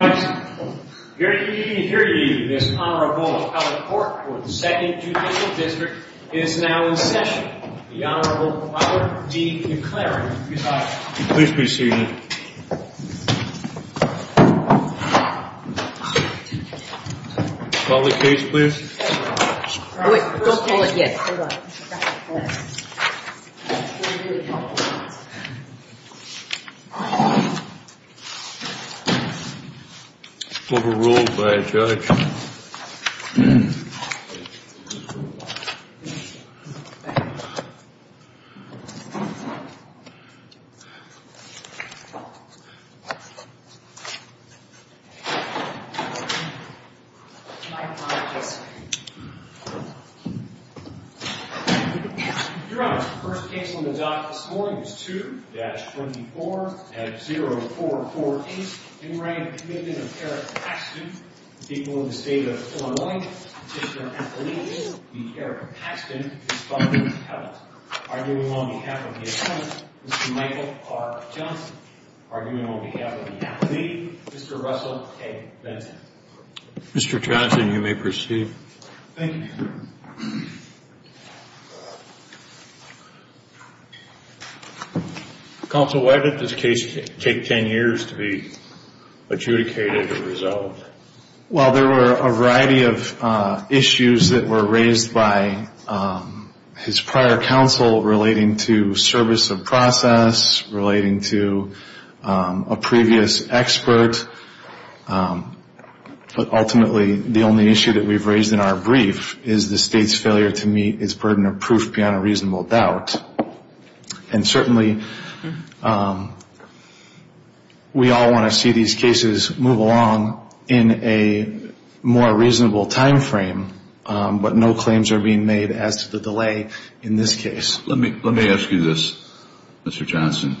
Here to give you this honorable report for the 2nd Judicial District is now in session, the Honorable Robert D. McCleary. Please be seated. Call the case please. Wait, don't pull it yet. Overruled by a judge. Your Honor, the first case on the dock this morning is 2-24-0448. In writing a Commitment of Eric Paxton, the people of the State of Illinois petitioner and legal aide, the Eric Paxton, is found impelled. Arguing on behalf of the attorney, Mr. Michael R. Johnson. Arguing on behalf of the attorney, Mr. Russell A. Benson. Mr. Johnson, you may proceed. Thank you. Counsel, why did this case take 10 years to be adjudicated and resolved? Well, there were a variety of issues that were raised by his prior counsel relating to service of process, relating to a previous expert. But ultimately, the only issue that we've raised in our brief is the State's failure to meet its burden of proof beyond a reasonable doubt. And certainly, we all want to see these cases move along in a more reasonable time frame. But no claims are being made as to the delay in this case. Let me ask you this, Mr. Johnson.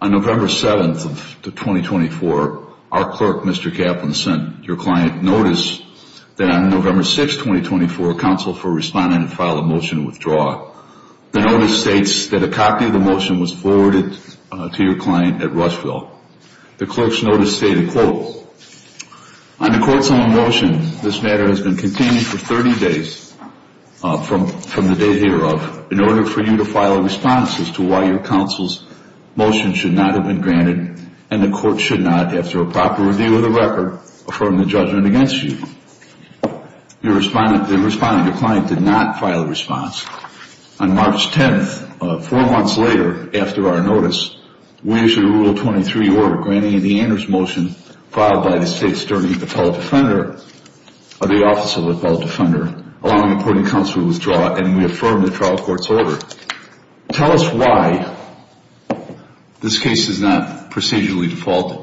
On November 7th of 2024, our clerk, Mr. Kaplan, sent your client notice that on November 6th, 2024, Counsel for Respondent filed a motion to withdraw. The notice states that a copy of the motion was forwarded to your client at Rushville. The clerk's notice stated, quote, On the court's own motion, this matter has been contained for 30 days from the date hereof in order for you to file a response as to why your counsel's motion should not have been granted and the court should not, after a proper review of the record, affirm the judgment against you. The respondent, your client, did not file a response. On March 10th, four months later, after our notice, we issued a Rule 23 order granting the Anders motion filed by the State's Attorney-Appellate Defender, or the Office of the Appellate Defender, allowing the court and counsel to withdraw, and we affirmed the trial court's order. Tell us why this case is not procedurally defaulted.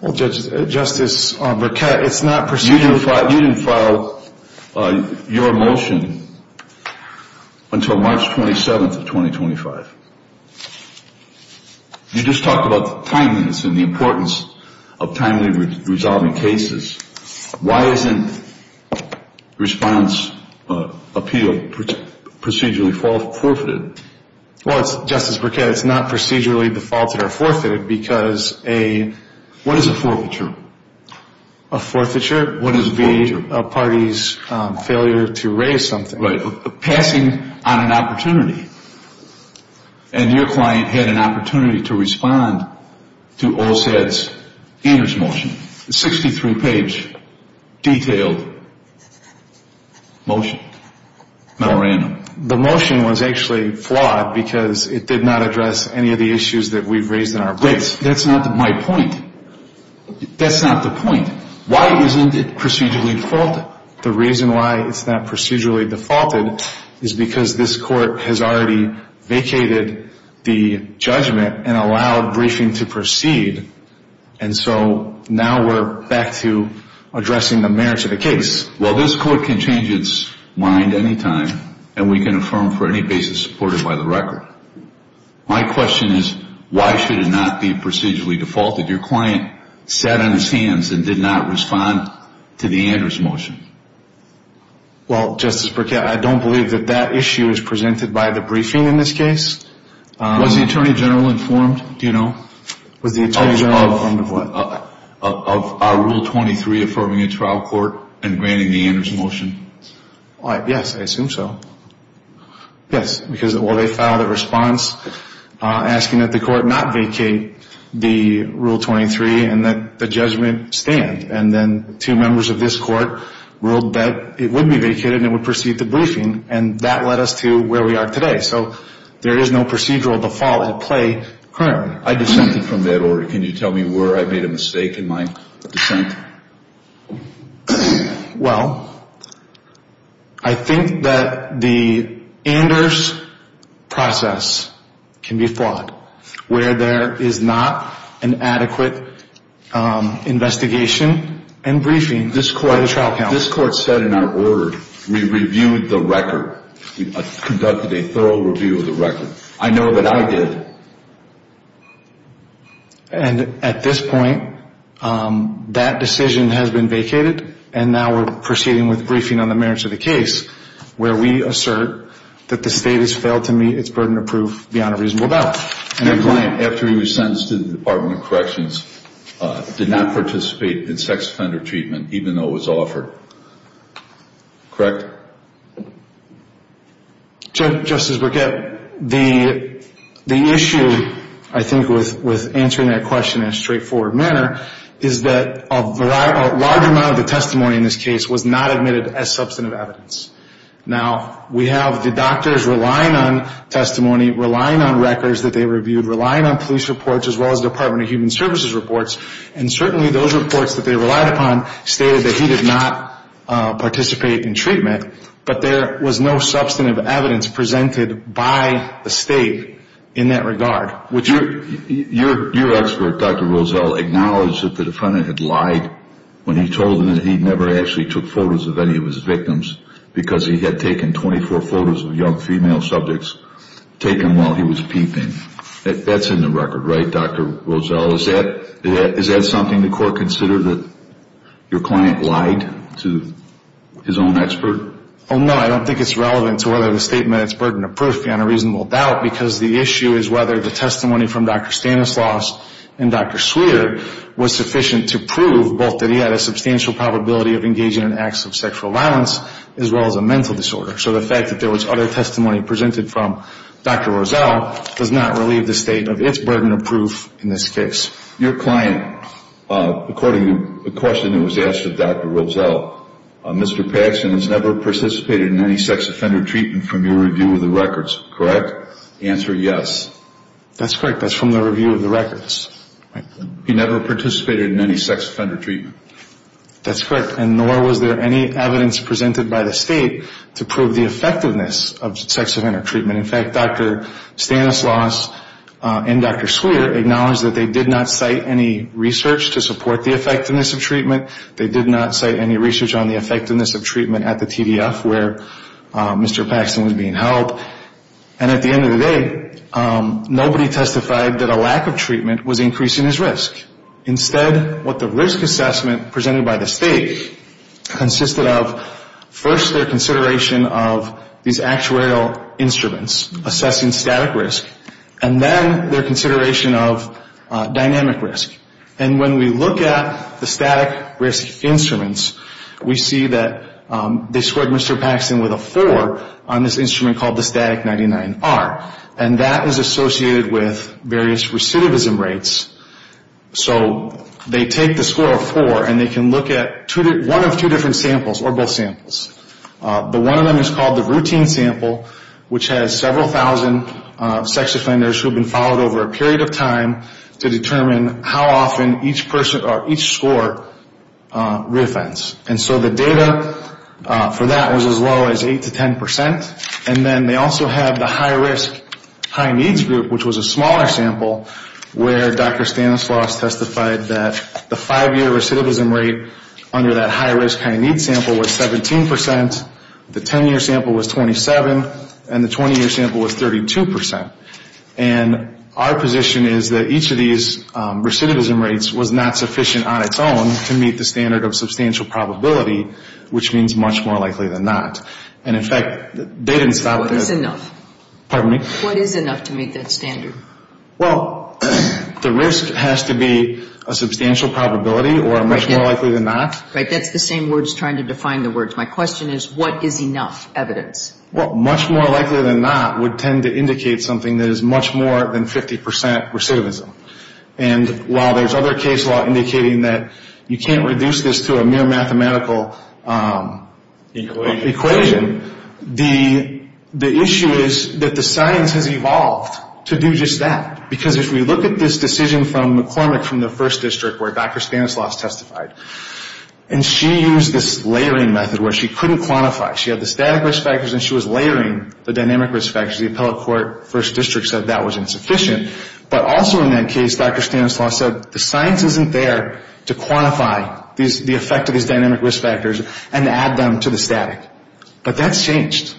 Well, Justice Burkett, it's not procedurally defaulted. You didn't file your motion until March 27th of 2025. You just talked about timeliness and the importance of timely resolving cases. Why isn't response appeal procedurally forfeited? Well, it's, Justice Burkett, it's not procedurally defaulted or forfeited because a What is a forfeiture? A forfeiture? What is a forfeiture? Would be a party's failure to raise something. Right. Passing on an opportunity, and your client had an opportunity to respond to OSAD's Anders motion. A 63-page, detailed motion, not random. The motion was actually flawed because it did not address any of the issues that we've raised in our briefs. That's not my point. That's not the point. Why isn't it procedurally defaulted? The reason why it's not procedurally defaulted is because this court has already vacated the judgment and allowed briefing to proceed, and so now we're back to addressing the merits of the case. Well, this court can change its mind any time, and we can affirm for any basis supported by the record. My question is, why should it not be procedurally defaulted? Your client sat on his hands and did not respond to the Anders motion. Well, Justice Burkett, I don't believe that that issue is presented by the briefing in this case. Was the Attorney General informed, do you know? Was the Attorney General informed of what? Of Rule 23 affirming a trial court and granting the Anders motion? Yes, I assume so. Yes, because they filed a response asking that the court not vacate the Rule 23 and that the judgment stand, and then two members of this court ruled that it would be vacated and it would proceed to briefing, and that led us to where we are today. So there is no procedural default at play currently. I dissented from that order. Can you tell me where I made a mistake in my dissent? Well, I think that the Anders process can be flawed where there is not an adequate investigation and briefing by the trial counsel. This court said in our word, we reviewed the record. We conducted a thorough review of the record. I know that I did. And at this point, that decision has been vacated, and now we're proceeding with briefing on the merits of the case, where we assert that the state has failed to meet its burden of proof beyond a reasonable doubt. And the client, after he was sentenced to the Department of Corrections, did not participate in sex offender treatment, even though it was offered. Correct? Correct. Justice Burkett, the issue, I think, with answering that question in a straightforward manner, is that a large amount of the testimony in this case was not admitted as substantive evidence. Now, we have the doctors relying on testimony, relying on records that they reviewed, relying on police reports as well as Department of Human Services reports, and certainly those reports that they relied upon stated that he did not participate in treatment, but there was no substantive evidence presented by the state in that regard. Your expert, Dr. Rozelle, acknowledged that the defendant had lied when he told them that he never actually took photos of any of his victims because he had taken 24 photos of young female subjects taken while he was peeping. That's in the record, right, Dr. Rozelle? Is that something the court considered, that your client lied to his own expert? Oh, no. I don't think it's relevant to whether the statement is burden of proof beyond a reasonable doubt because the issue is whether the testimony from Dr. Stanislaus and Dr. Swearer was sufficient to prove both that he had a substantial probability of engaging in acts of sexual violence as well as a mental disorder. So the fact that there was other testimony presented from Dr. Rozelle does not relieve the state of its burden of proof in this case. Your client, according to the question that was asked of Dr. Rozelle, Mr. Paxson has never participated in any sex offender treatment from your review of the records, correct? The answer is yes. That's correct. That's from the review of the records. He never participated in any sex offender treatment. That's correct, and nor was there any evidence presented by the state to prove the effectiveness of sex offender treatment. In fact, Dr. Stanislaus and Dr. Swearer acknowledged that they did not cite any research to support the effectiveness of treatment. They did not cite any research on the effectiveness of treatment at the TDF where Mr. Paxson was being held. And at the end of the day, nobody testified that a lack of treatment was increasing his risk. Instead, what the risk assessment presented by the state consisted of, first their consideration of these actuarial instruments assessing static risk, and then their consideration of dynamic risk. And when we look at the static risk instruments, we see that they scored Mr. Paxson with a 4 on this instrument called the Static 99R, and that is associated with various recidivism rates. So they take the score of 4, and they can look at one of two different samples, or both samples. The one of them is called the Routine Sample, which has several thousand sex offenders who have been followed over a period of time to determine how often each person or each score reoffends. And so the data for that was as low as 8 to 10 percent. And then they also have the High Risk High Needs Group, which was a smaller sample, where Dr. Stanislaus testified that the five-year recidivism rate under that high-risk high-need sample was 17 percent, the 10-year sample was 27, and the 20-year sample was 32 percent. And our position is that each of these recidivism rates was not sufficient on its own to meet the standard of substantial probability, which means much more likely than not. And, in fact, they didn't stop at that. What is enough? Pardon me? What is enough to meet that standard? Well, the risk has to be a substantial probability or much more likely than not. Right. That's the same words trying to define the words. My question is, what is enough evidence? Well, much more likely than not would tend to indicate something that is much more than 50 percent recidivism. And while there's other case law indicating that you can't reduce this to a mere mathematical equation, the issue is that the science has evolved to do just that. Because if we look at this decision from McCormick from the First District, where Dr. Stanislaus testified, and she used this layering method where she couldn't quantify. She had the static risk factors and she was layering the dynamic risk factors. The appellate court, First District, said that was insufficient. But also in that case, Dr. Stanislaus said, the science isn't there to quantify the effect of these dynamic risk factors and add them to the static. But that's changed.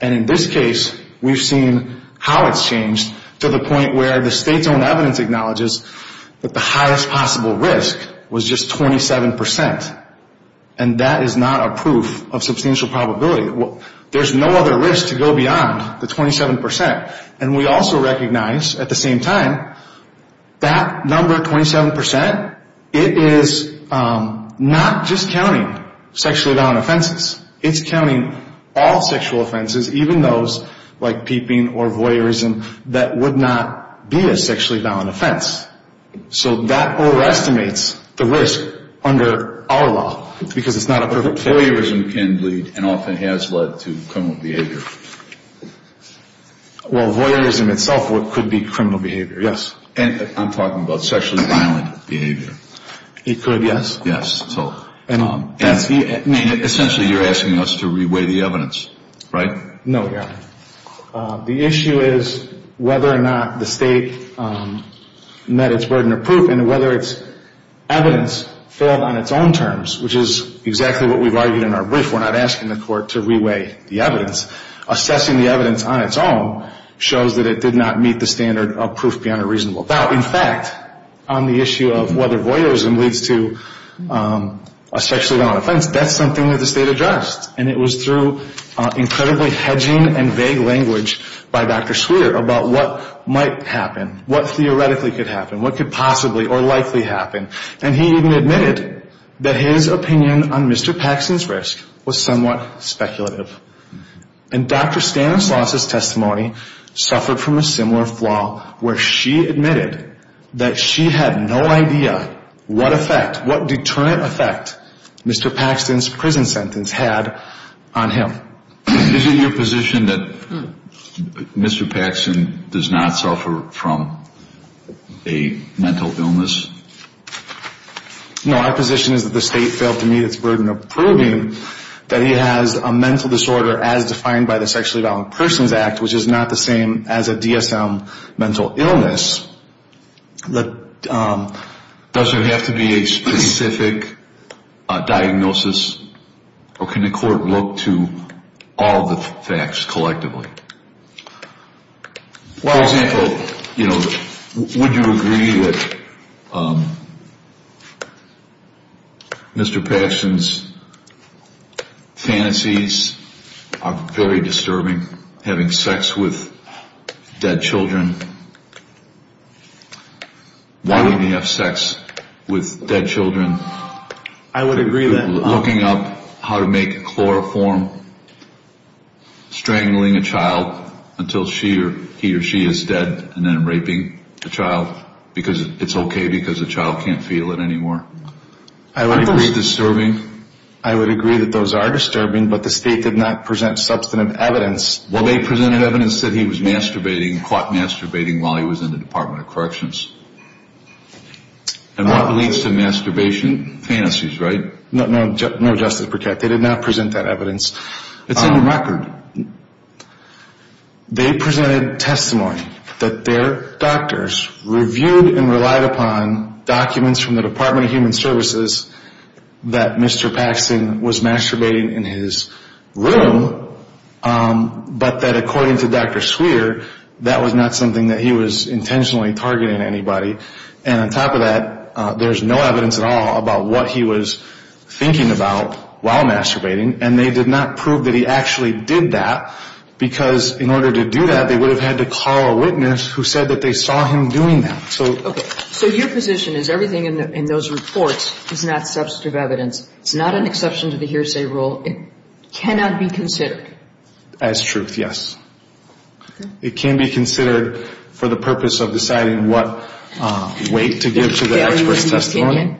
And in this case, we've seen how it's changed to the point where the state's own evidence acknowledges that the highest possible risk was just 27 percent. And that is not a proof of substantial probability. There's no other risk to go beyond the 27 percent. And we also recognize, at the same time, that number, 27 percent, it is not just counting sexually violent offenses. It's counting all sexual offenses, even those like peeping or voyeurism, that would not be a sexually violent offense. So that overestimates the risk under our law because it's not a proof of probability. But voyeurism can lead and often has led to criminal behavior. Well, voyeurism itself could be criminal behavior, yes. And I'm talking about sexually violent behavior. It could, yes. Yes. And essentially you're asking us to reweigh the evidence, right? No, we aren't. The issue is whether or not the state met its burden of proof and whether its evidence failed on its own terms, which is exactly what we've argued in our brief. We're not asking the court to reweigh the evidence. Assessing the evidence on its own shows that it did not meet the standard of proof beyond a reasonable doubt. In fact, on the issue of whether voyeurism leads to a sexually violent offense, that's something that the state addressed. And it was through incredibly hedging and vague language by Dr. Swearer about what might happen, what theoretically could happen, what could possibly or likely happen. And he even admitted that his opinion on Mr. Paxton's risk was somewhat speculative. And Dr. Stanislaus' testimony suffered from a similar flaw where she admitted that she had no idea what effect, what deterrent effect Mr. Paxton's prison sentence had on him. Is it your position that Mr. Paxton does not suffer from a mental illness? No, our position is that the state failed to meet its burden of proving that he has a mental disorder, as defined by the Sexually Violent Persons Act, which is not the same as a DSM mental illness. Does there have to be a specific diagnosis? Or can the court look to all the facts collectively? For example, would you agree that Mr. Paxton's fantasies are very disturbing? Having sex with dead children? Why would he have sex with dead children? I would agree that... Looking up how to make chloroform, strangling a child until he or she is dead, and then raping the child because it's okay because the child can't feel it anymore. I would agree that those are disturbing, but the state did not present substantive evidence. Well, they presented evidence that he was masturbating, caught masturbating while he was in the Department of Corrections. And that leads to masturbation fantasies, right? No, Justice Burkett, they did not present that evidence. It's in the record. They presented testimony that their doctors reviewed and relied upon documents from the Department of Human Services that Mr. Paxton was masturbating in his room, but that according to Dr. Swearer, that was not something that he was intentionally targeting anybody. And on top of that, there's no evidence at all about what he was thinking about while masturbating, and they did not prove that he actually did that because in order to do that, they would have had to call a witness who said that they saw him doing that. So your position is everything in those reports is not substantive evidence. It's not an exception to the hearsay rule. It cannot be considered. As truth, yes. It can be considered for the purpose of deciding what weight to give to the expert's testimony.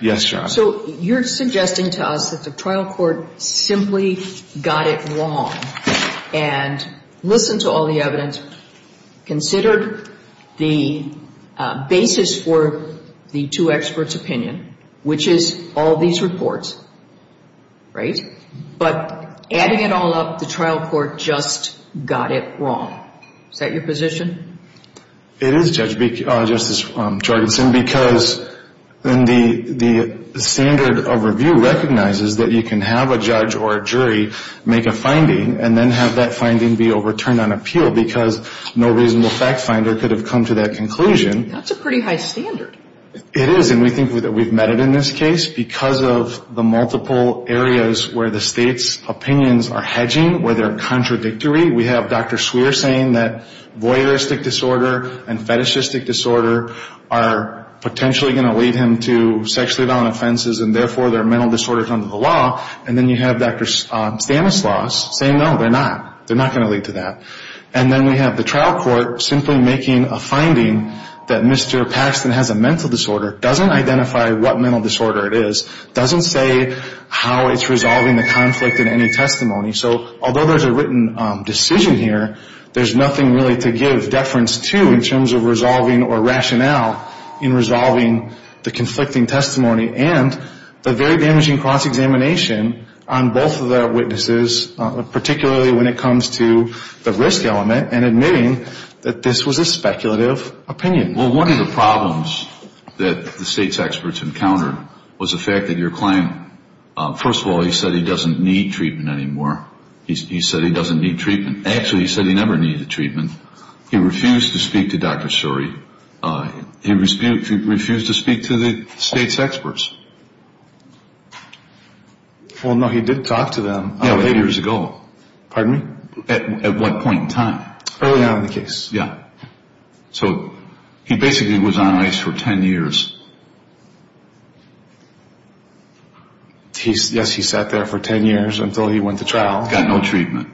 Yes, Your Honor. So you're suggesting to us that the trial court simply got it wrong and listened to all the evidence, considered the basis for the two experts' opinion, which is all these reports, right? But adding it all up, the trial court just got it wrong. Is that your position? It is, Justice Jorgenson, because the standard of review recognizes that you can have a judge or a jury make a finding and then have that finding be overturned on appeal because no reasonable fact finder could have come to that conclusion. That's a pretty high standard. It is, and we think that we've met it in this case because of the multiple areas where the State's opinions are hedging, where they're contradictory. We have Dr. Swear saying that voyeuristic disorder and fetishistic disorder are potentially going to lead him to sexually violent offenses, and therefore they're mental disorders under the law. And then you have Dr. Stanislaus saying, no, they're not. They're not going to lead to that. And then we have the trial court simply making a finding that Mr. Paxton has a mental disorder, doesn't identify what mental disorder it is, doesn't say how it's resolving the conflict in any testimony. So although there's a written decision here, there's nothing really to give deference to in terms of resolving or rationale in resolving the conflicting testimony and the very damaging cross-examination on both of the witnesses, particularly when it comes to the risk element and admitting that this was a speculative opinion. Well, one of the problems that the State's experts encountered was the fact that your client, first of all, he said he doesn't need treatment anymore. He said he doesn't need treatment. Actually, he said he never needed treatment. He refused to speak to Dr. Suri. He refused to speak to the State's experts. Well, no, he did talk to them. Eight years ago. Pardon me? At what point in time? Early on in the case. Yeah. So he basically was on ice for 10 years. Yes, he sat there for 10 years until he went to trial. Got no treatment.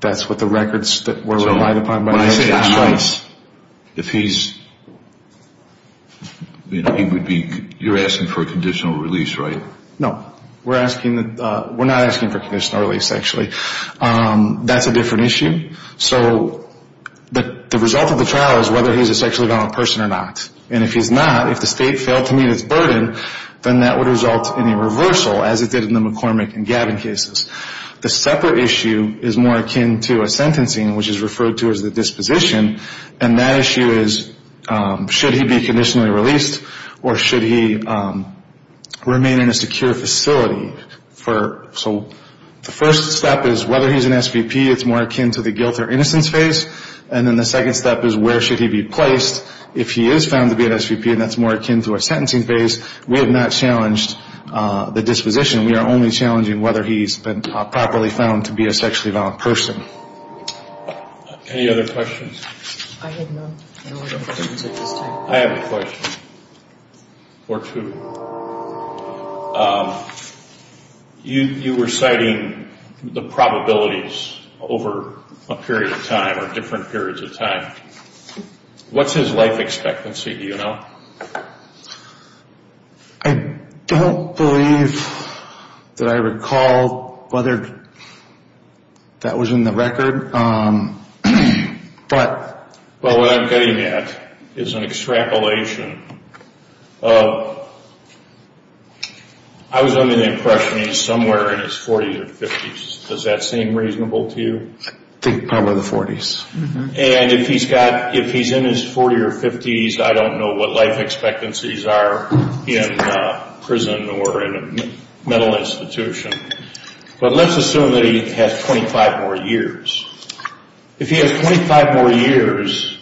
That's what the records were relied upon. When I say on ice, if he's, you know, he would be, you're asking for a conditional release, right? No, we're asking, we're not asking for conditional release, actually. That's a different issue. So the result of the trial is whether he's a sexually violent person or not. And if he's not, if the State failed to meet its burden, then that would result in a reversal, as it did in the McCormick and Gavin cases. The separate issue is more akin to a sentencing, which is referred to as the disposition, and that issue is should he be conditionally released or should he remain in a secure facility. So the first step is whether he's an SVP. It's more akin to the guilt or innocence phase. And then the second step is where should he be placed. If he is found to be an SVP, and that's more akin to a sentencing phase, we have not challenged the disposition. We are only challenging whether he's been properly found to be a sexually violent person. Any other questions? I have a question or two. You were citing the probabilities over a period of time or different periods of time. What's his life expectancy, do you know? I don't believe that I recall whether that was in the record. But what I'm getting at is an extrapolation. I was under the impression he's somewhere in his 40s or 50s. Does that seem reasonable to you? I think probably the 40s. And if he's in his 40s or 50s, I don't know what life expectancies are in prison or in a mental institution. But let's assume that he has 25 more years. If he has 25 more years,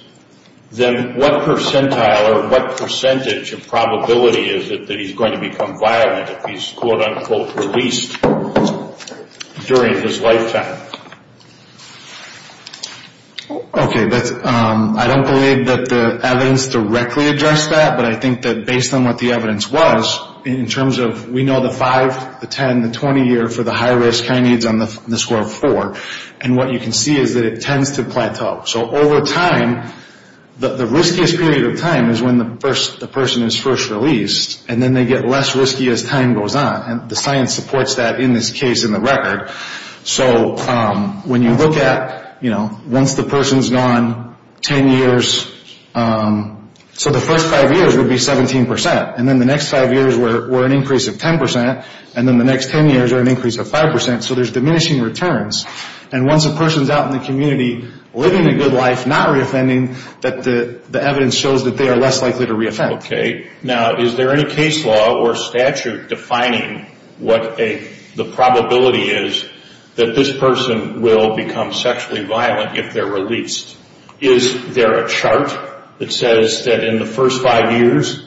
then what percentile or what percentage of probability is it that he's going to become violent if he's quote-unquote released during his lifetime? Okay. I don't believe that the evidence directly addressed that, but I think that based on what the evidence was, in terms of we know the 5, the 10, the 20 year for the high-risk kinase on the score of 4, and what you can see is that it tends to plateau. So over time, the riskiest period of time is when the person is first released, and then they get less risky as time goes on. And the science supports that in this case in the record. So when you look at, you know, once the person's gone 10 years, so the first 5 years would be 17%, and then the next 5 years were an increase of 10%, and then the next 10 years are an increase of 5%. So there's diminishing returns. And once a person's out in the community living a good life, not reoffending, that the evidence shows that they are less likely to reoffend. Okay. Now, is there any case law or statute defining what the probability is that this person will become sexually violent if they're released? Is there a chart that says that in the first 5 years,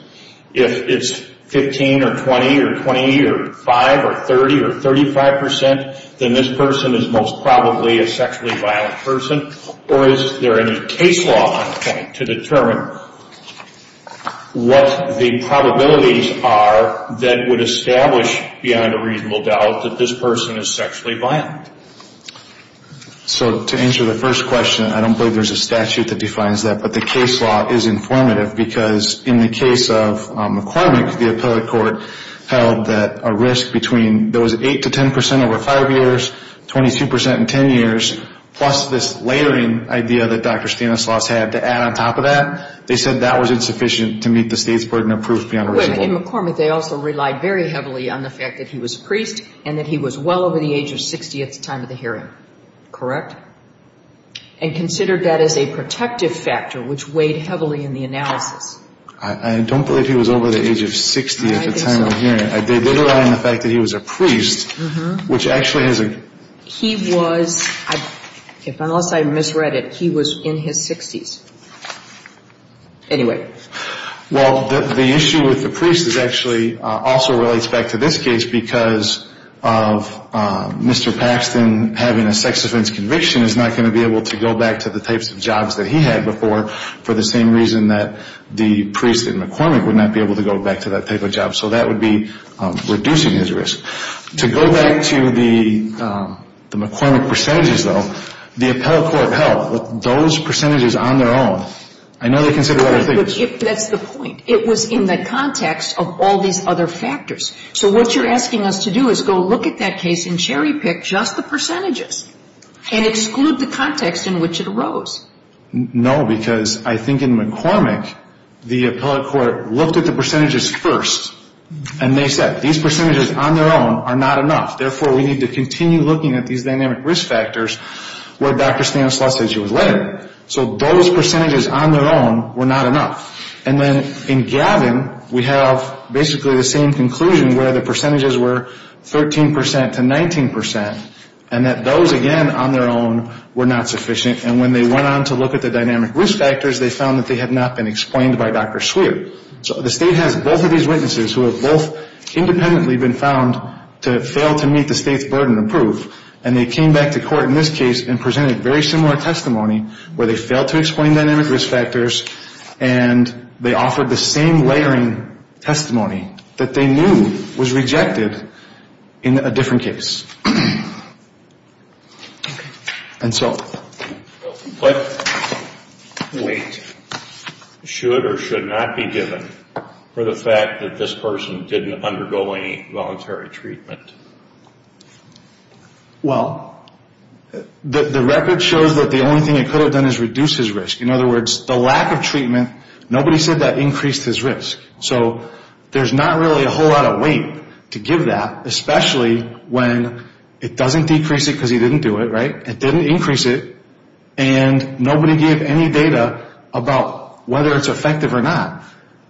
if it's 15 or 20 or 20 or 5 or 30 or 35%, then this person is most probably a sexually violent person? Or is there any case law to determine what the probabilities are that would establish beyond a reasonable doubt that this person is sexually violent? So to answer the first question, I don't believe there's a statute that defines that. But the case law is informative because in the case of McCormick, the appellate court held that a risk between those 8% to 10% over 5 years, 22% in 10 years, plus this layering idea that Dr. Stanislaus had to add on top of that, they said that was insufficient to meet the state's burden of proof beyond reasonable doubt. In McCormick, they also relied very heavily on the fact that he was a priest and that he was well over the age of 60 at the time of the hearing. Correct? And considered that as a protective factor, which weighed heavily in the analysis. I don't believe he was over the age of 60 at the time of the hearing. I did rely on the fact that he was a priest, which actually has a... He was, unless I misread it, he was in his 60s. Anyway. Well, the issue with the priest is actually also relates back to this case because of Mr. Paxton having a sex offense conviction is not going to be able to go back to the types of jobs that he had before for the same reason that the priest in McCormick would not be able to go back to that type of job. So that would be reducing his risk. To go back to the McCormick percentages, though, the appellate court held that those percentages on their own, I know they consider other things. That's the point. It was in the context of all these other factors. So what you're asking us to do is go look at that case and cherry pick just the percentages and exclude the context in which it arose. No, because I think in McCormick, the appellate court looked at the percentages first and they said these percentages on their own are not enough. Therefore, we need to continue looking at these dynamic risk factors where Dr. Stanislaus said she was later. So those percentages on their own were not enough. And then in Gavin, we have basically the same conclusion where the percentages were 13% to 19% and that those, again, on their own were not sufficient. And when they went on to look at the dynamic risk factors, they found that they had not been explained by Dr. Swearer. So the state has both of these witnesses who have both independently been found to fail to meet the state's burden of proof, and they came back to court in this case and presented very similar testimony where they failed to explain dynamic risk factors and they offered the same layering testimony that they knew was rejected in a different case. And so... What weight should or should not be given for the fact that this person didn't undergo any voluntary treatment? Well, the record shows that the only thing it could have done is reduce his risk. In other words, the lack of treatment, nobody said that increased his risk. So there's not really a whole lot of weight to give that, especially when it doesn't decrease it because he didn't do it, right? It didn't increase it, and nobody gave any data about whether it's effective or not.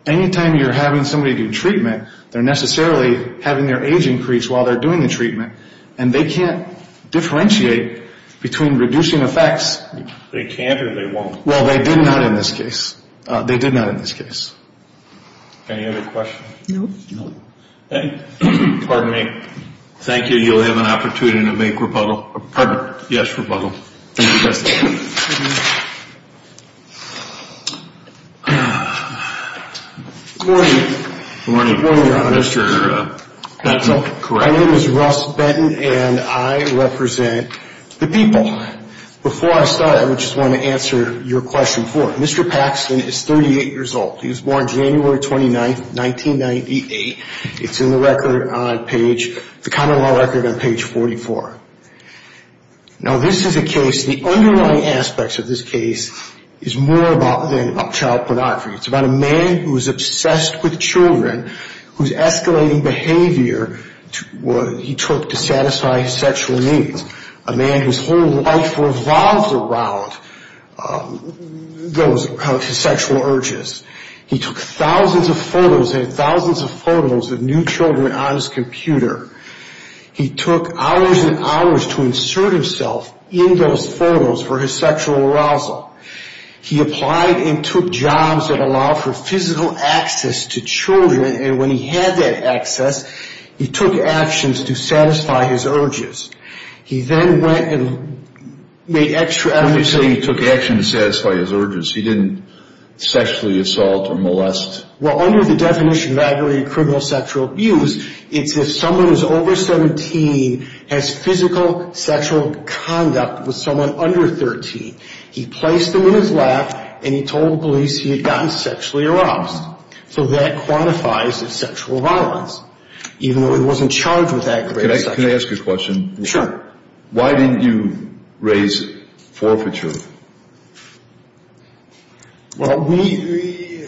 Anytime you're having somebody do treatment, they're necessarily having their age increase while they're doing the treatment, and they can't differentiate between reducing effects. They can't or they won't? Well, they did not in this case. They did not in this case. Any other questions? No. Pardon me. Thank you. You'll have an opportunity to make rebuttal. Yes, rebuttal. Good morning. Good morning, Mr. Benson. My name is Russ Benton, and I represent the people. Before I start, I just want to answer your question four. Mr. Paxton is 38 years old. He was born January 29, 1998. It's in the record on page 44. Now, this is a case, the underlying aspects of this case, is more than child pornography. It's about a man who is obsessed with children, whose escalating behavior he took to satisfy his sexual needs, a man whose whole life revolves around those sexual urges. He took thousands of photos and thousands of photos of new children on his computer. He took hours and hours to insert himself in those photos for his sexual arousal. He applied and took jobs that allowed for physical access to children, and when he had that access, he took actions to satisfy his urges. He then went and made extra effort to... When you say he took actions to satisfy his urges, he didn't sexually assault or molest? Well, under the definition of aggravated criminal sexual abuse, it's if someone who's over 17 has physical sexual conduct with someone under 13. He placed them in his lap, and he told the police he had gotten sexually aroused. So that quantifies as sexual violence, even though he wasn't charged with aggravated sexual abuse. Can I ask you a question? Sure. Why didn't you raise forfeiture? Well, we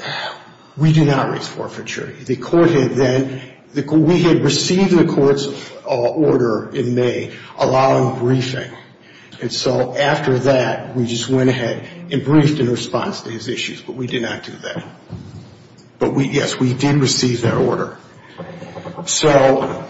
do not raise forfeiture. We had received the court's order in May allowing briefing, and so after that we just went ahead and briefed in response to his issues, but we did not do that. But, yes, we did receive that order. So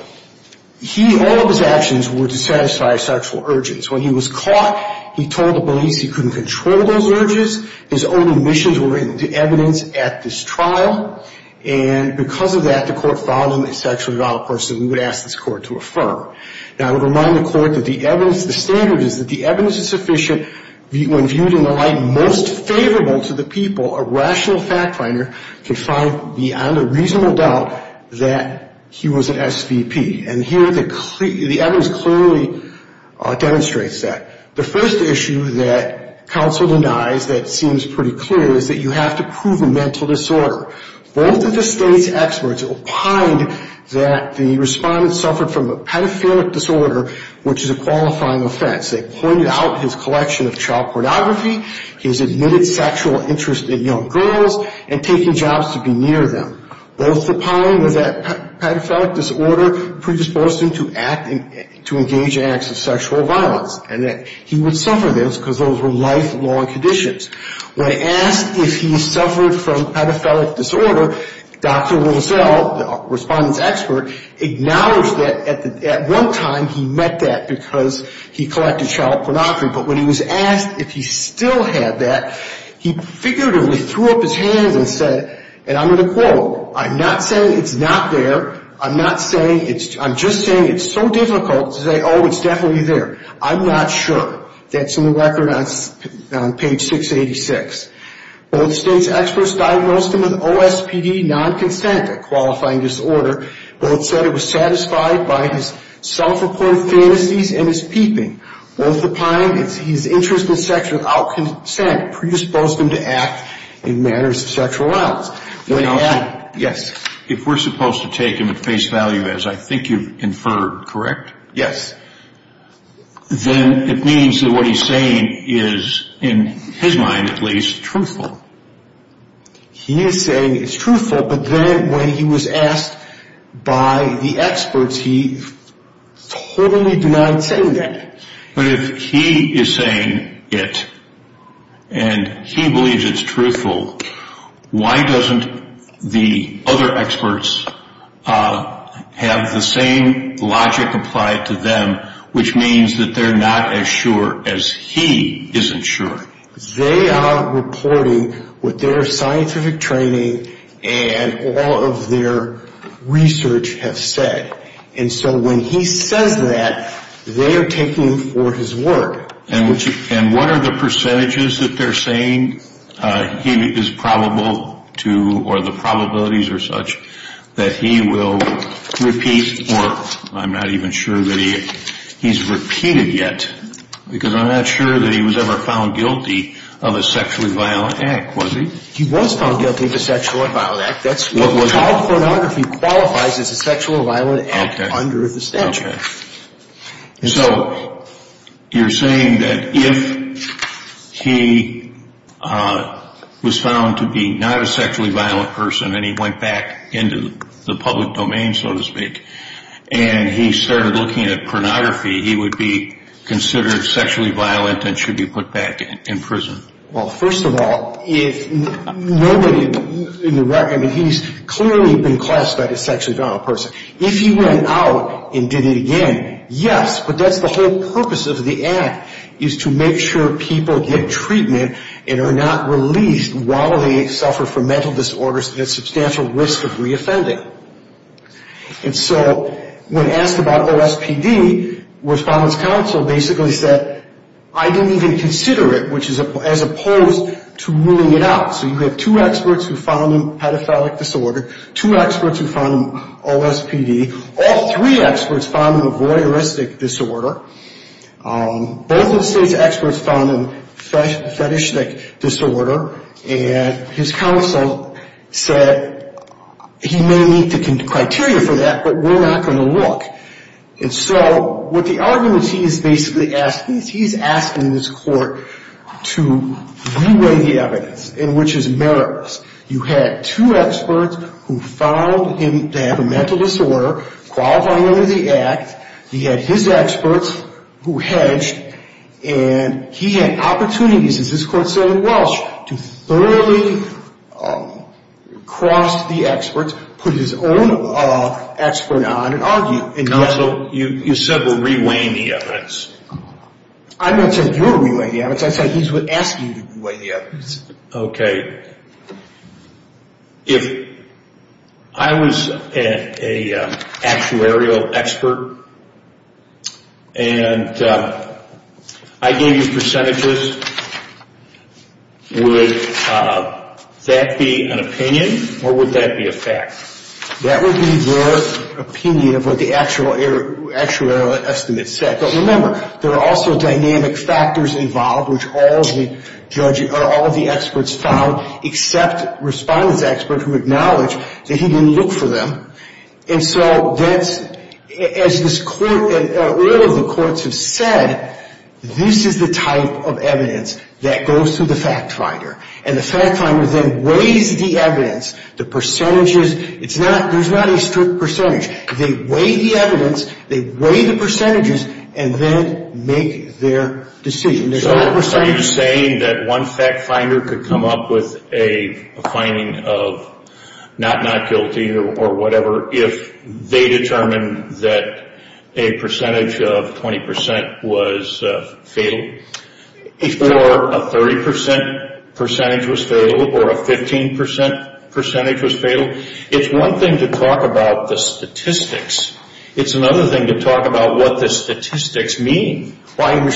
he, all of his actions were to satisfy his sexual urges. When he was caught, he told the police he couldn't control those urges. His own omissions were written into evidence at this trial, and because of that, the court found him a sexually violent person. We would ask this court to affirm. Now, I would remind the court that the evidence, the standard is that the evidence is sufficient. When viewed in the light most favorable to the people, a rational fact finder can find beyond a reasonable doubt that he was an SVP, and here the evidence clearly demonstrates that. The first issue that counsel denies that seems pretty clear is that you have to prove a mental disorder. Both of the state's experts opined that the respondent suffered from a pedophilic disorder, which is a qualifying offense. They pointed out his collection of child pornography, his admitted sexual interest in young girls, and taking jobs to be near them. Both opined that pedophilic disorder predisposed him to act and to engage in acts of sexual violence, and that he would suffer this because those were lifelong conditions. When asked if he suffered from pedophilic disorder, Dr. Rozell, the respondent's expert, acknowledged that at one time he met that because he collected child pornography, but when he was asked if he still had that, he figuratively threw up his hands and said, and I'm going to quote, I'm not saying it's not there. I'm just saying it's so difficult to say, oh, it's definitely there. I'm not sure. That's in the record on page 686. Both state's experts diagnosed him with OSPD, non-consent, a qualifying disorder. Both said it was satisfied by his self-reported fantasies and his peeping. Both opined his interest in sex without consent predisposed him to act in matters of sexual violence. Yes. If we're supposed to take him at face value, as I think you've inferred, correct? Yes. Then it means that what he's saying is, in his mind at least, truthful. He is saying it's truthful, but then when he was asked by the experts, he totally denied saying that. But if he is saying it and he believes it's truthful, why doesn't the other experts have the same logic applied to them, which means that they're not as sure as he isn't sure? They are reporting what their scientific training and all of their research have said. And so when he says that, they are taking him for his word. And what are the percentages that they're saying he is probable to, or the probabilities are such, that he will repeat, or I'm not even sure that he's repeated yet, because I'm not sure that he was ever found guilty of a sexually violent act, was he? He was found guilty of a sexually violent act. Child pornography qualifies as a sexually violent act under the statute. So you're saying that if he was found to be not a sexually violent person and he went back into the public domain, so to speak, and he started looking at pornography, he would be considered sexually violent and should be put back in prison? Well, first of all, if nobody, I mean, he's clearly been classed as a sexually violent person. If he went out and did it again, yes, but that's the whole purpose of the act, is to make sure people get treatment and are not released while they suffer from mental disorders and have substantial risk of reoffending. And so when asked about OSPD, Respondents Council basically said, I didn't even consider it, as opposed to ruling it out. So you have two experts who found him pedophilic disorder, two experts who found him OSPD, all three experts found him a voyeuristic disorder, both of the state's experts found him fetishistic disorder, and his counsel said he may meet the criteria for that, but we're not going to look. And so what the argument he's basically asking is he's asking this court to re-weigh the evidence, and which is meritorious. You had two experts who found him to have a mental disorder qualifying under the act, he had his experts who hedged, and he had opportunities, as this court said in Walsh, to thoroughly cross the experts, put his own expert on and argue. And also you said we're re-weighing the evidence. I'm not saying you're re-weighing the evidence, I said he's asking you to re-weigh the evidence. Okay. If I was an actuarial expert and I gave you percentages, would that be an opinion or would that be a fact? That would be their opinion of what the actuarial estimate said. But remember, there are also dynamic factors involved, which all of the experts found, except respondents' experts who acknowledged that he didn't look for them. And so as this court and all of the courts have said, this is the type of evidence that goes to the fact finder. And the fact finder then weighs the evidence, the percentages. There's not a strict percentage. They weigh the evidence, they weigh the percentages, and then make their decision. So you're saying that one fact finder could come up with a finding of not not guilty or whatever if they determined that a percentage of 20% was fatal? If a 30% percentage was fatal or a 15% percentage was fatal? It's one thing to talk about the statistics. It's another thing to talk about what the statistics mean. And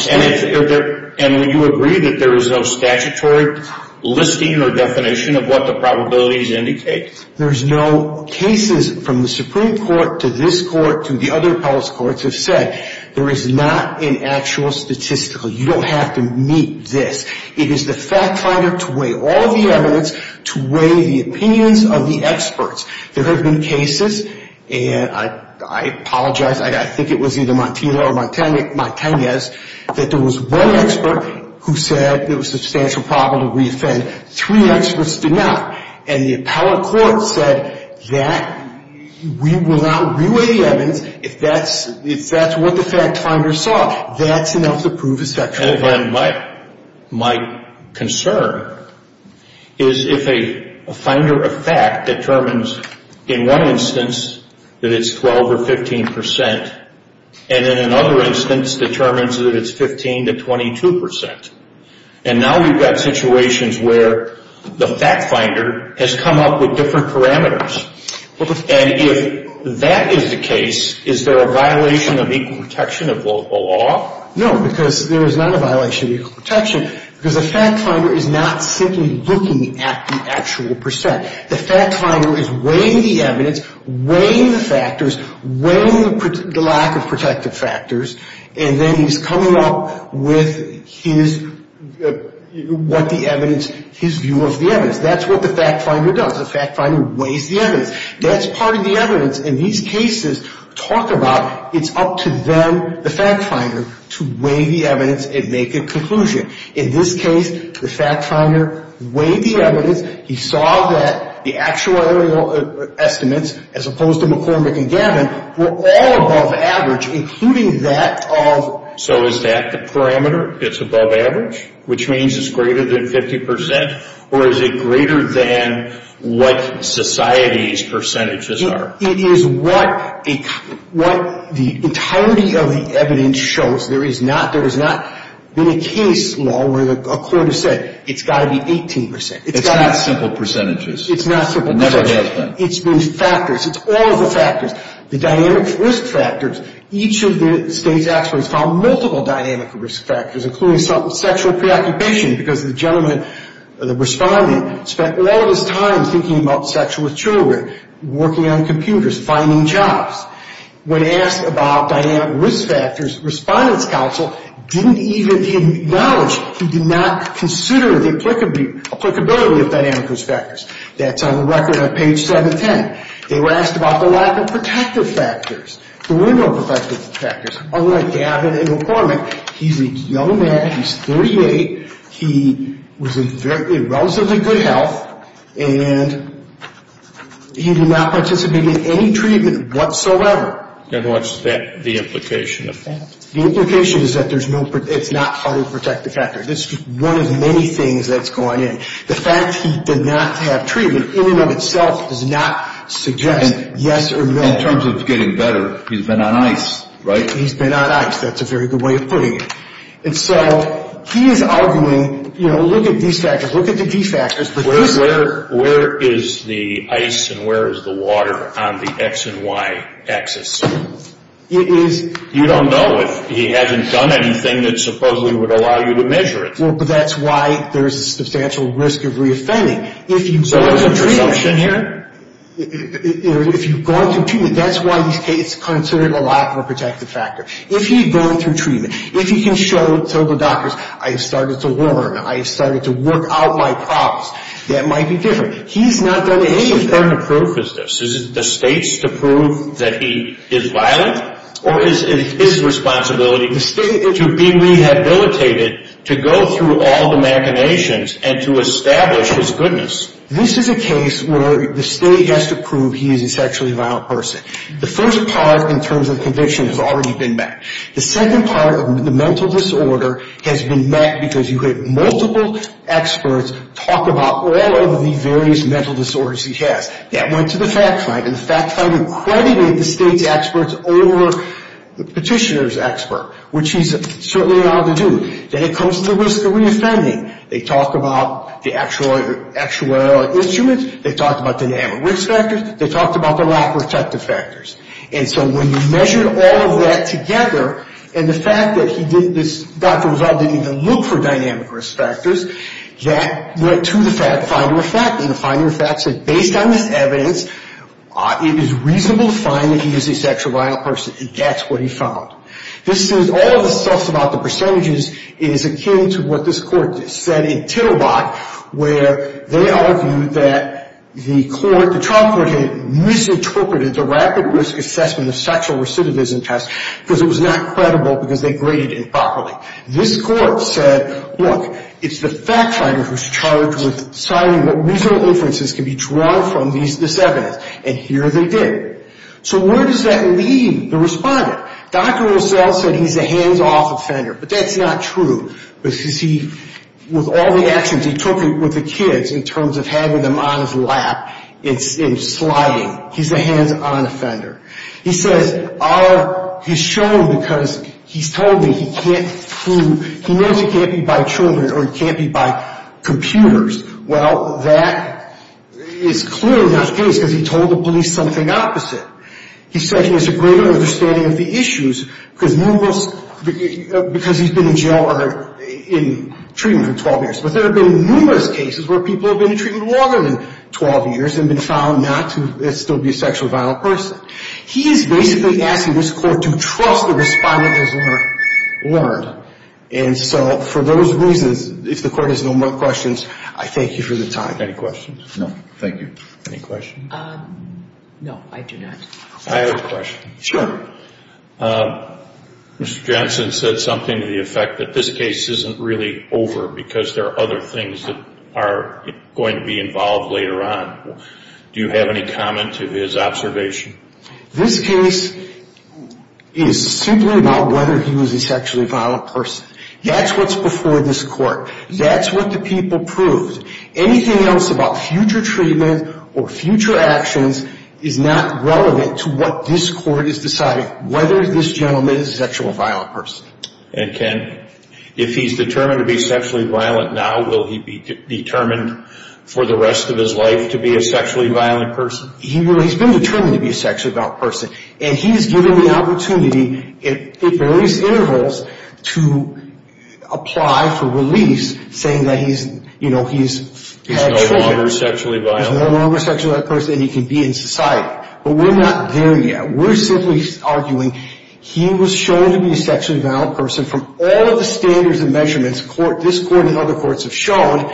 you agree that there is no statutory listing or definition of what the probabilities indicate? There's no cases from the Supreme Court to this court to the other appellate courts have said, there is not an actual statistical. You don't have to meet this. It is the fact finder to weigh all of the evidence, to weigh the opinions of the experts. There have been cases, and I apologize, I think it was either Montillo or Montanez, that there was one expert who said it was a substantial problem to re-offend. Three experts did not. And the appellate court said that we will not re-weigh the evidence if that's what the fact finder saw. That's enough to prove it's factual. My concern is if a finder of fact determines in one instance that it's 12% or 15%, and in another instance determines that it's 15% to 22%. And now we've got situations where the fact finder has come up with different parameters. And if that is the case, is there a violation of equal protection of the law? No, because there is not a violation of equal protection, because the fact finder is not simply looking at the actual percent. The fact finder is weighing the evidence, weighing the factors, weighing the lack of protective factors, and then he's coming up with his, what the evidence, his view of the evidence. That's what the fact finder does. The fact finder weighs the evidence. That's part of the evidence. And these cases talk about it's up to them, the fact finder, to weigh the evidence and make a conclusion. In this case, the fact finder weighed the evidence. He saw that the actuarial estimates, as opposed to McCormick and Gavin, were all above average, including that of. So is that the parameter? It's above average, which means it's greater than 50%, or is it greater than what society's percentages are? It is what the entirety of the evidence shows. There is not, there has not been a case law where a court has said it's got to be 18%. It's not simple percentages. It's not simple percentages. It never has been. It's been factors. It's all the factors. The dynamic risk factors, each of the state's experts found multiple dynamic risk factors, including sexual preoccupation, because the gentleman, the respondent, spent all his time thinking about sex with children, working on computers, finding jobs. When asked about dynamic risk factors, respondent's counsel didn't even acknowledge he did not consider the applicability of dynamic risk factors. That's on the record on page 710. They were asked about the lack of protective factors, the window of protective factors. Unlike Gavin and McCormick, he's a young man. He's 38. He was in relatively good health, and he did not participate in any treatment whatsoever. And what's the implication of that? The implication is that there's no, it's not how to protect the factor. This is one of many things that's going in. The fact he did not have treatment in and of itself does not suggest yes or no. In terms of getting better, he's been on ice, right? He's been on ice. That's a very good way of putting it. And so he is arguing, you know, look at these factors. Look at the D factors. Where is the ice and where is the water on the X and Y axis? It is. You don't know if he hasn't done anything that supposedly would allow you to measure it. Well, but that's why there's a substantial risk of reoffending. So there's a presumption here? If you've gone through treatment, that's why he's considered a lot more protective factor. If he'd gone through treatment, if he can show to the doctors, I've started to warn, I've started to work out my problems, that might be different. He's not done anything. What sort of burden of proof is this? Is it the state's to prove that he is violent? Or is it his responsibility to be rehabilitated to go through all the machinations and to establish his goodness? This is a case where the state has to prove he is a sexually violent person. The first part in terms of conviction has already been met. The second part of the mental disorder has been met because you have multiple experts talk about all of the various mental disorders he has. That went to the fact finder. The fact finder credited the state's experts over the petitioner's expert, which he's certainly allowed to do. Then it comes to the risk of reoffending. They talk about the actuarial instruments. They talked about the risk factors. They talked about the lack of effective factors. And so when you measure all of that together, and the fact that he did this doctor result didn't even look for dynamic risk factors, that went to the fact finder effect. And the finder effect said based on this evidence, it is reasonable to find that he is a sexually violent person. And that's what he found. This says all of the stuff about the percentages is akin to what this court said in Tittlebot, where they argued that the court, the trial court, had misinterpreted the rapid risk assessment of sexual recidivism test because it was not credible because they graded it improperly. This court said, look, it's the fact finder who's charged with deciding what reasonable inferences can be drawn from this evidence. And here they did. So where does that leave the respondent? Dr. Russell said he's a hands-off offender. But that's not true. With all the actions he took with the kids in terms of having them on his lap and sliding, he's a hands-on offender. He says all he's shown because he's told me he knows he can't be by children or he can't be by computers. Well, that is clearly not the case because he told the police something opposite. He said he has a greater understanding of the issues because he's been in jail or in treatment for 12 years. But there have been numerous cases where people have been in treatment longer than 12 years and been found not to still be a sexually violent person. He is basically asking this court to trust the respondent has learned. And so for those reasons, if the court has no more questions, I thank you for the time. Any questions? No, thank you. Any questions? No, I do not. I have a question. Sure. Mr. Johnson said something to the effect that this case isn't really over because there are other things that are going to be involved later on. Do you have any comment to his observation? This case is simply about whether he was a sexually violent person. That's what's before this court. That's what the people proved. Anything else about future treatment or future actions is not relevant to what this court has decided, whether this gentleman is a sexually violent person. And, Ken, if he's determined to be sexually violent now, will he be determined for the rest of his life to be a sexually violent person? He's been determined to be a sexually violent person, and he's given the opportunity at various intervals to apply for release, saying that he's had children. He's no longer a sexually violent person. And he can be in society. But we're not there yet. We're simply arguing he was shown to be a sexually violent person from all of the standards and measurements this court and other courts have shown,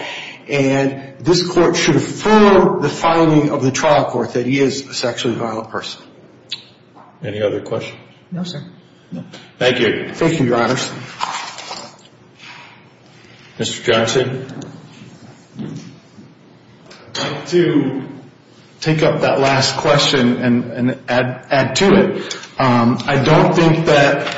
and this court should affirm the finding of the trial court that he is a sexually violent person. Any other questions? No, sir. Thank you. Thank you, Your Honors. Mr. Johnson? To take up that last question and add to it, I don't think that,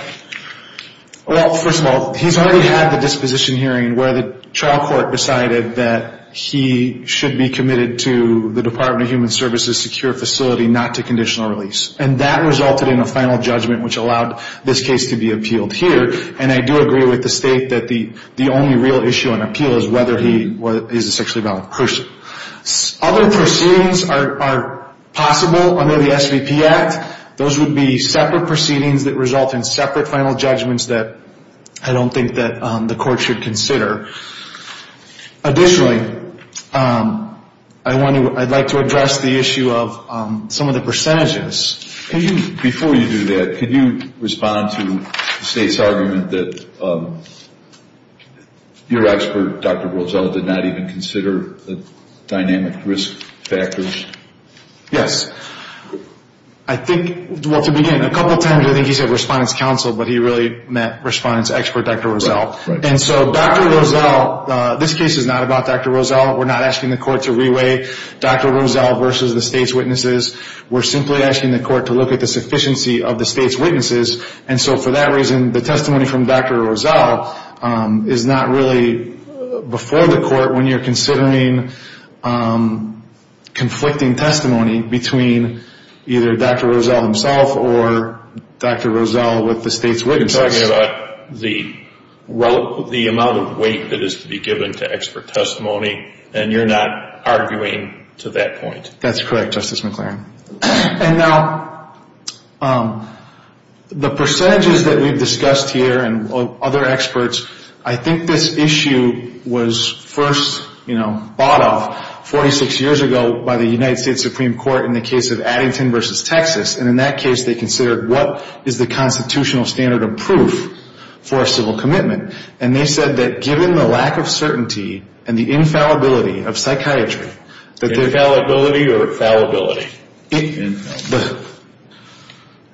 well, first of all, he's already had the disposition hearing where the trial court decided that he should be committed to the Department of Human Services' secure facility, not to conditional release. And that resulted in a final judgment, which allowed this case to be appealed here. And I do agree with the State that the only real issue on appeal is whether he is a sexually violent person. Other proceedings are possible under the SVP Act. Those would be separate proceedings that result in separate final judgments that I don't think that the court should consider. Additionally, I'd like to address the issue of some of the percentages. Before you do that, can you respond to the State's argument that your expert, Dr. Rosell, did not even consider the dynamic risk factors? Yes. I think, well, to begin, a couple times I think he said respondent's counsel, but he really meant respondent's expert, Dr. Rosell. And so Dr. Rosell, this case is not about Dr. Rosell. We're not asking the court to reweigh Dr. Rosell versus the State's witnesses. We're simply asking the court to look at the sufficiency of the State's witnesses. And so for that reason, the testimony from Dr. Rosell is not really before the court when you're considering conflicting testimony between either Dr. Rosell himself or Dr. Rosell with the State's witnesses. You're talking about the amount of weight that is to be given to expert testimony, and you're not arguing to that point. That's correct, Justice McClaren. And now the percentages that we've discussed here and other experts, I think this issue was first, you know, bought off 46 years ago by the United States Supreme Court in the case of Addington versus Texas, and in that case they considered what is the constitutional standard of proof for a civil commitment. And they said that given the lack of certainty and the infallibility of psychiatry, Infallibility or fallibility? Infallibility.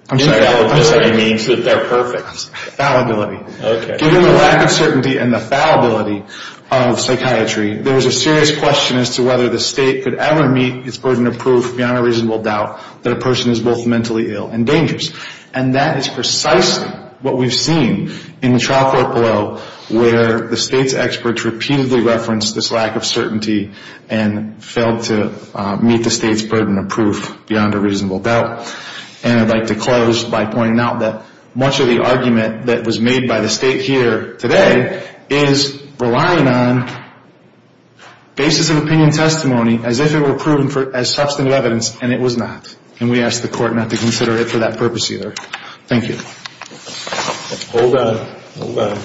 I'm sorry. Infallibility means that they're perfect. Fallibility. Okay. Given the lack of certainty and the fallibility of psychiatry, there is a serious question as to whether the State could ever meet its burden of proof beyond a reasonable doubt that a person is both mentally ill and dangerous. And that is precisely what we've seen in the trial court below where the State's experts repeatedly referenced this lack of certainty and failed to meet the State's burden of proof beyond a reasonable doubt. And I'd like to close by pointing out that much of the argument that was made by the State here today is relying on basis of opinion testimony as if it were proven as substantive evidence, and it was not. And we ask the Court not to consider it for that purpose either. Thank you. Hold on. Hold on.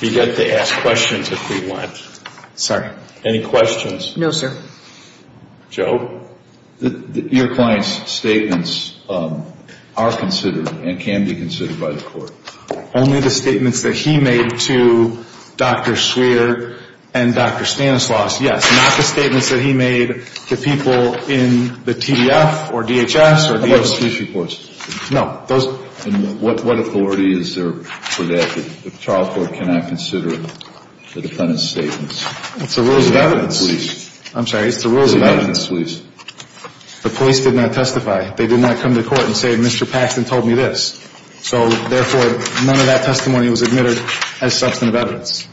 You get to ask questions if you want. Sorry. Any questions? No, sir. Joe? Your client's statements are considered and can be considered by the Court. Only the statements that he made to Dr. Swearer and Dr. Stanislaus, yes. Not the statements that he made to people in the TDF or DHS or DHS case reports. No. And what authority is there for that if the trial court cannot consider the defendant's statements? It's the rules of evidence. I'm sorry. It's the rules of evidence. The police did not testify. They did not come to court and say, Mr. Paxton told me this. So, therefore, none of that testimony was admitted as substantive evidence.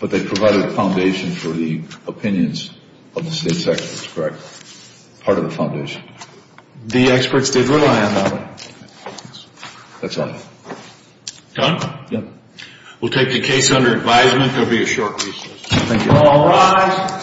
But they provided a foundation for the opinions of the State's experts, correct? Part of the foundation. The experts did rely on that. That's all. Done? Yep. We'll take the case under advisement. There will be a short recess. Thank you.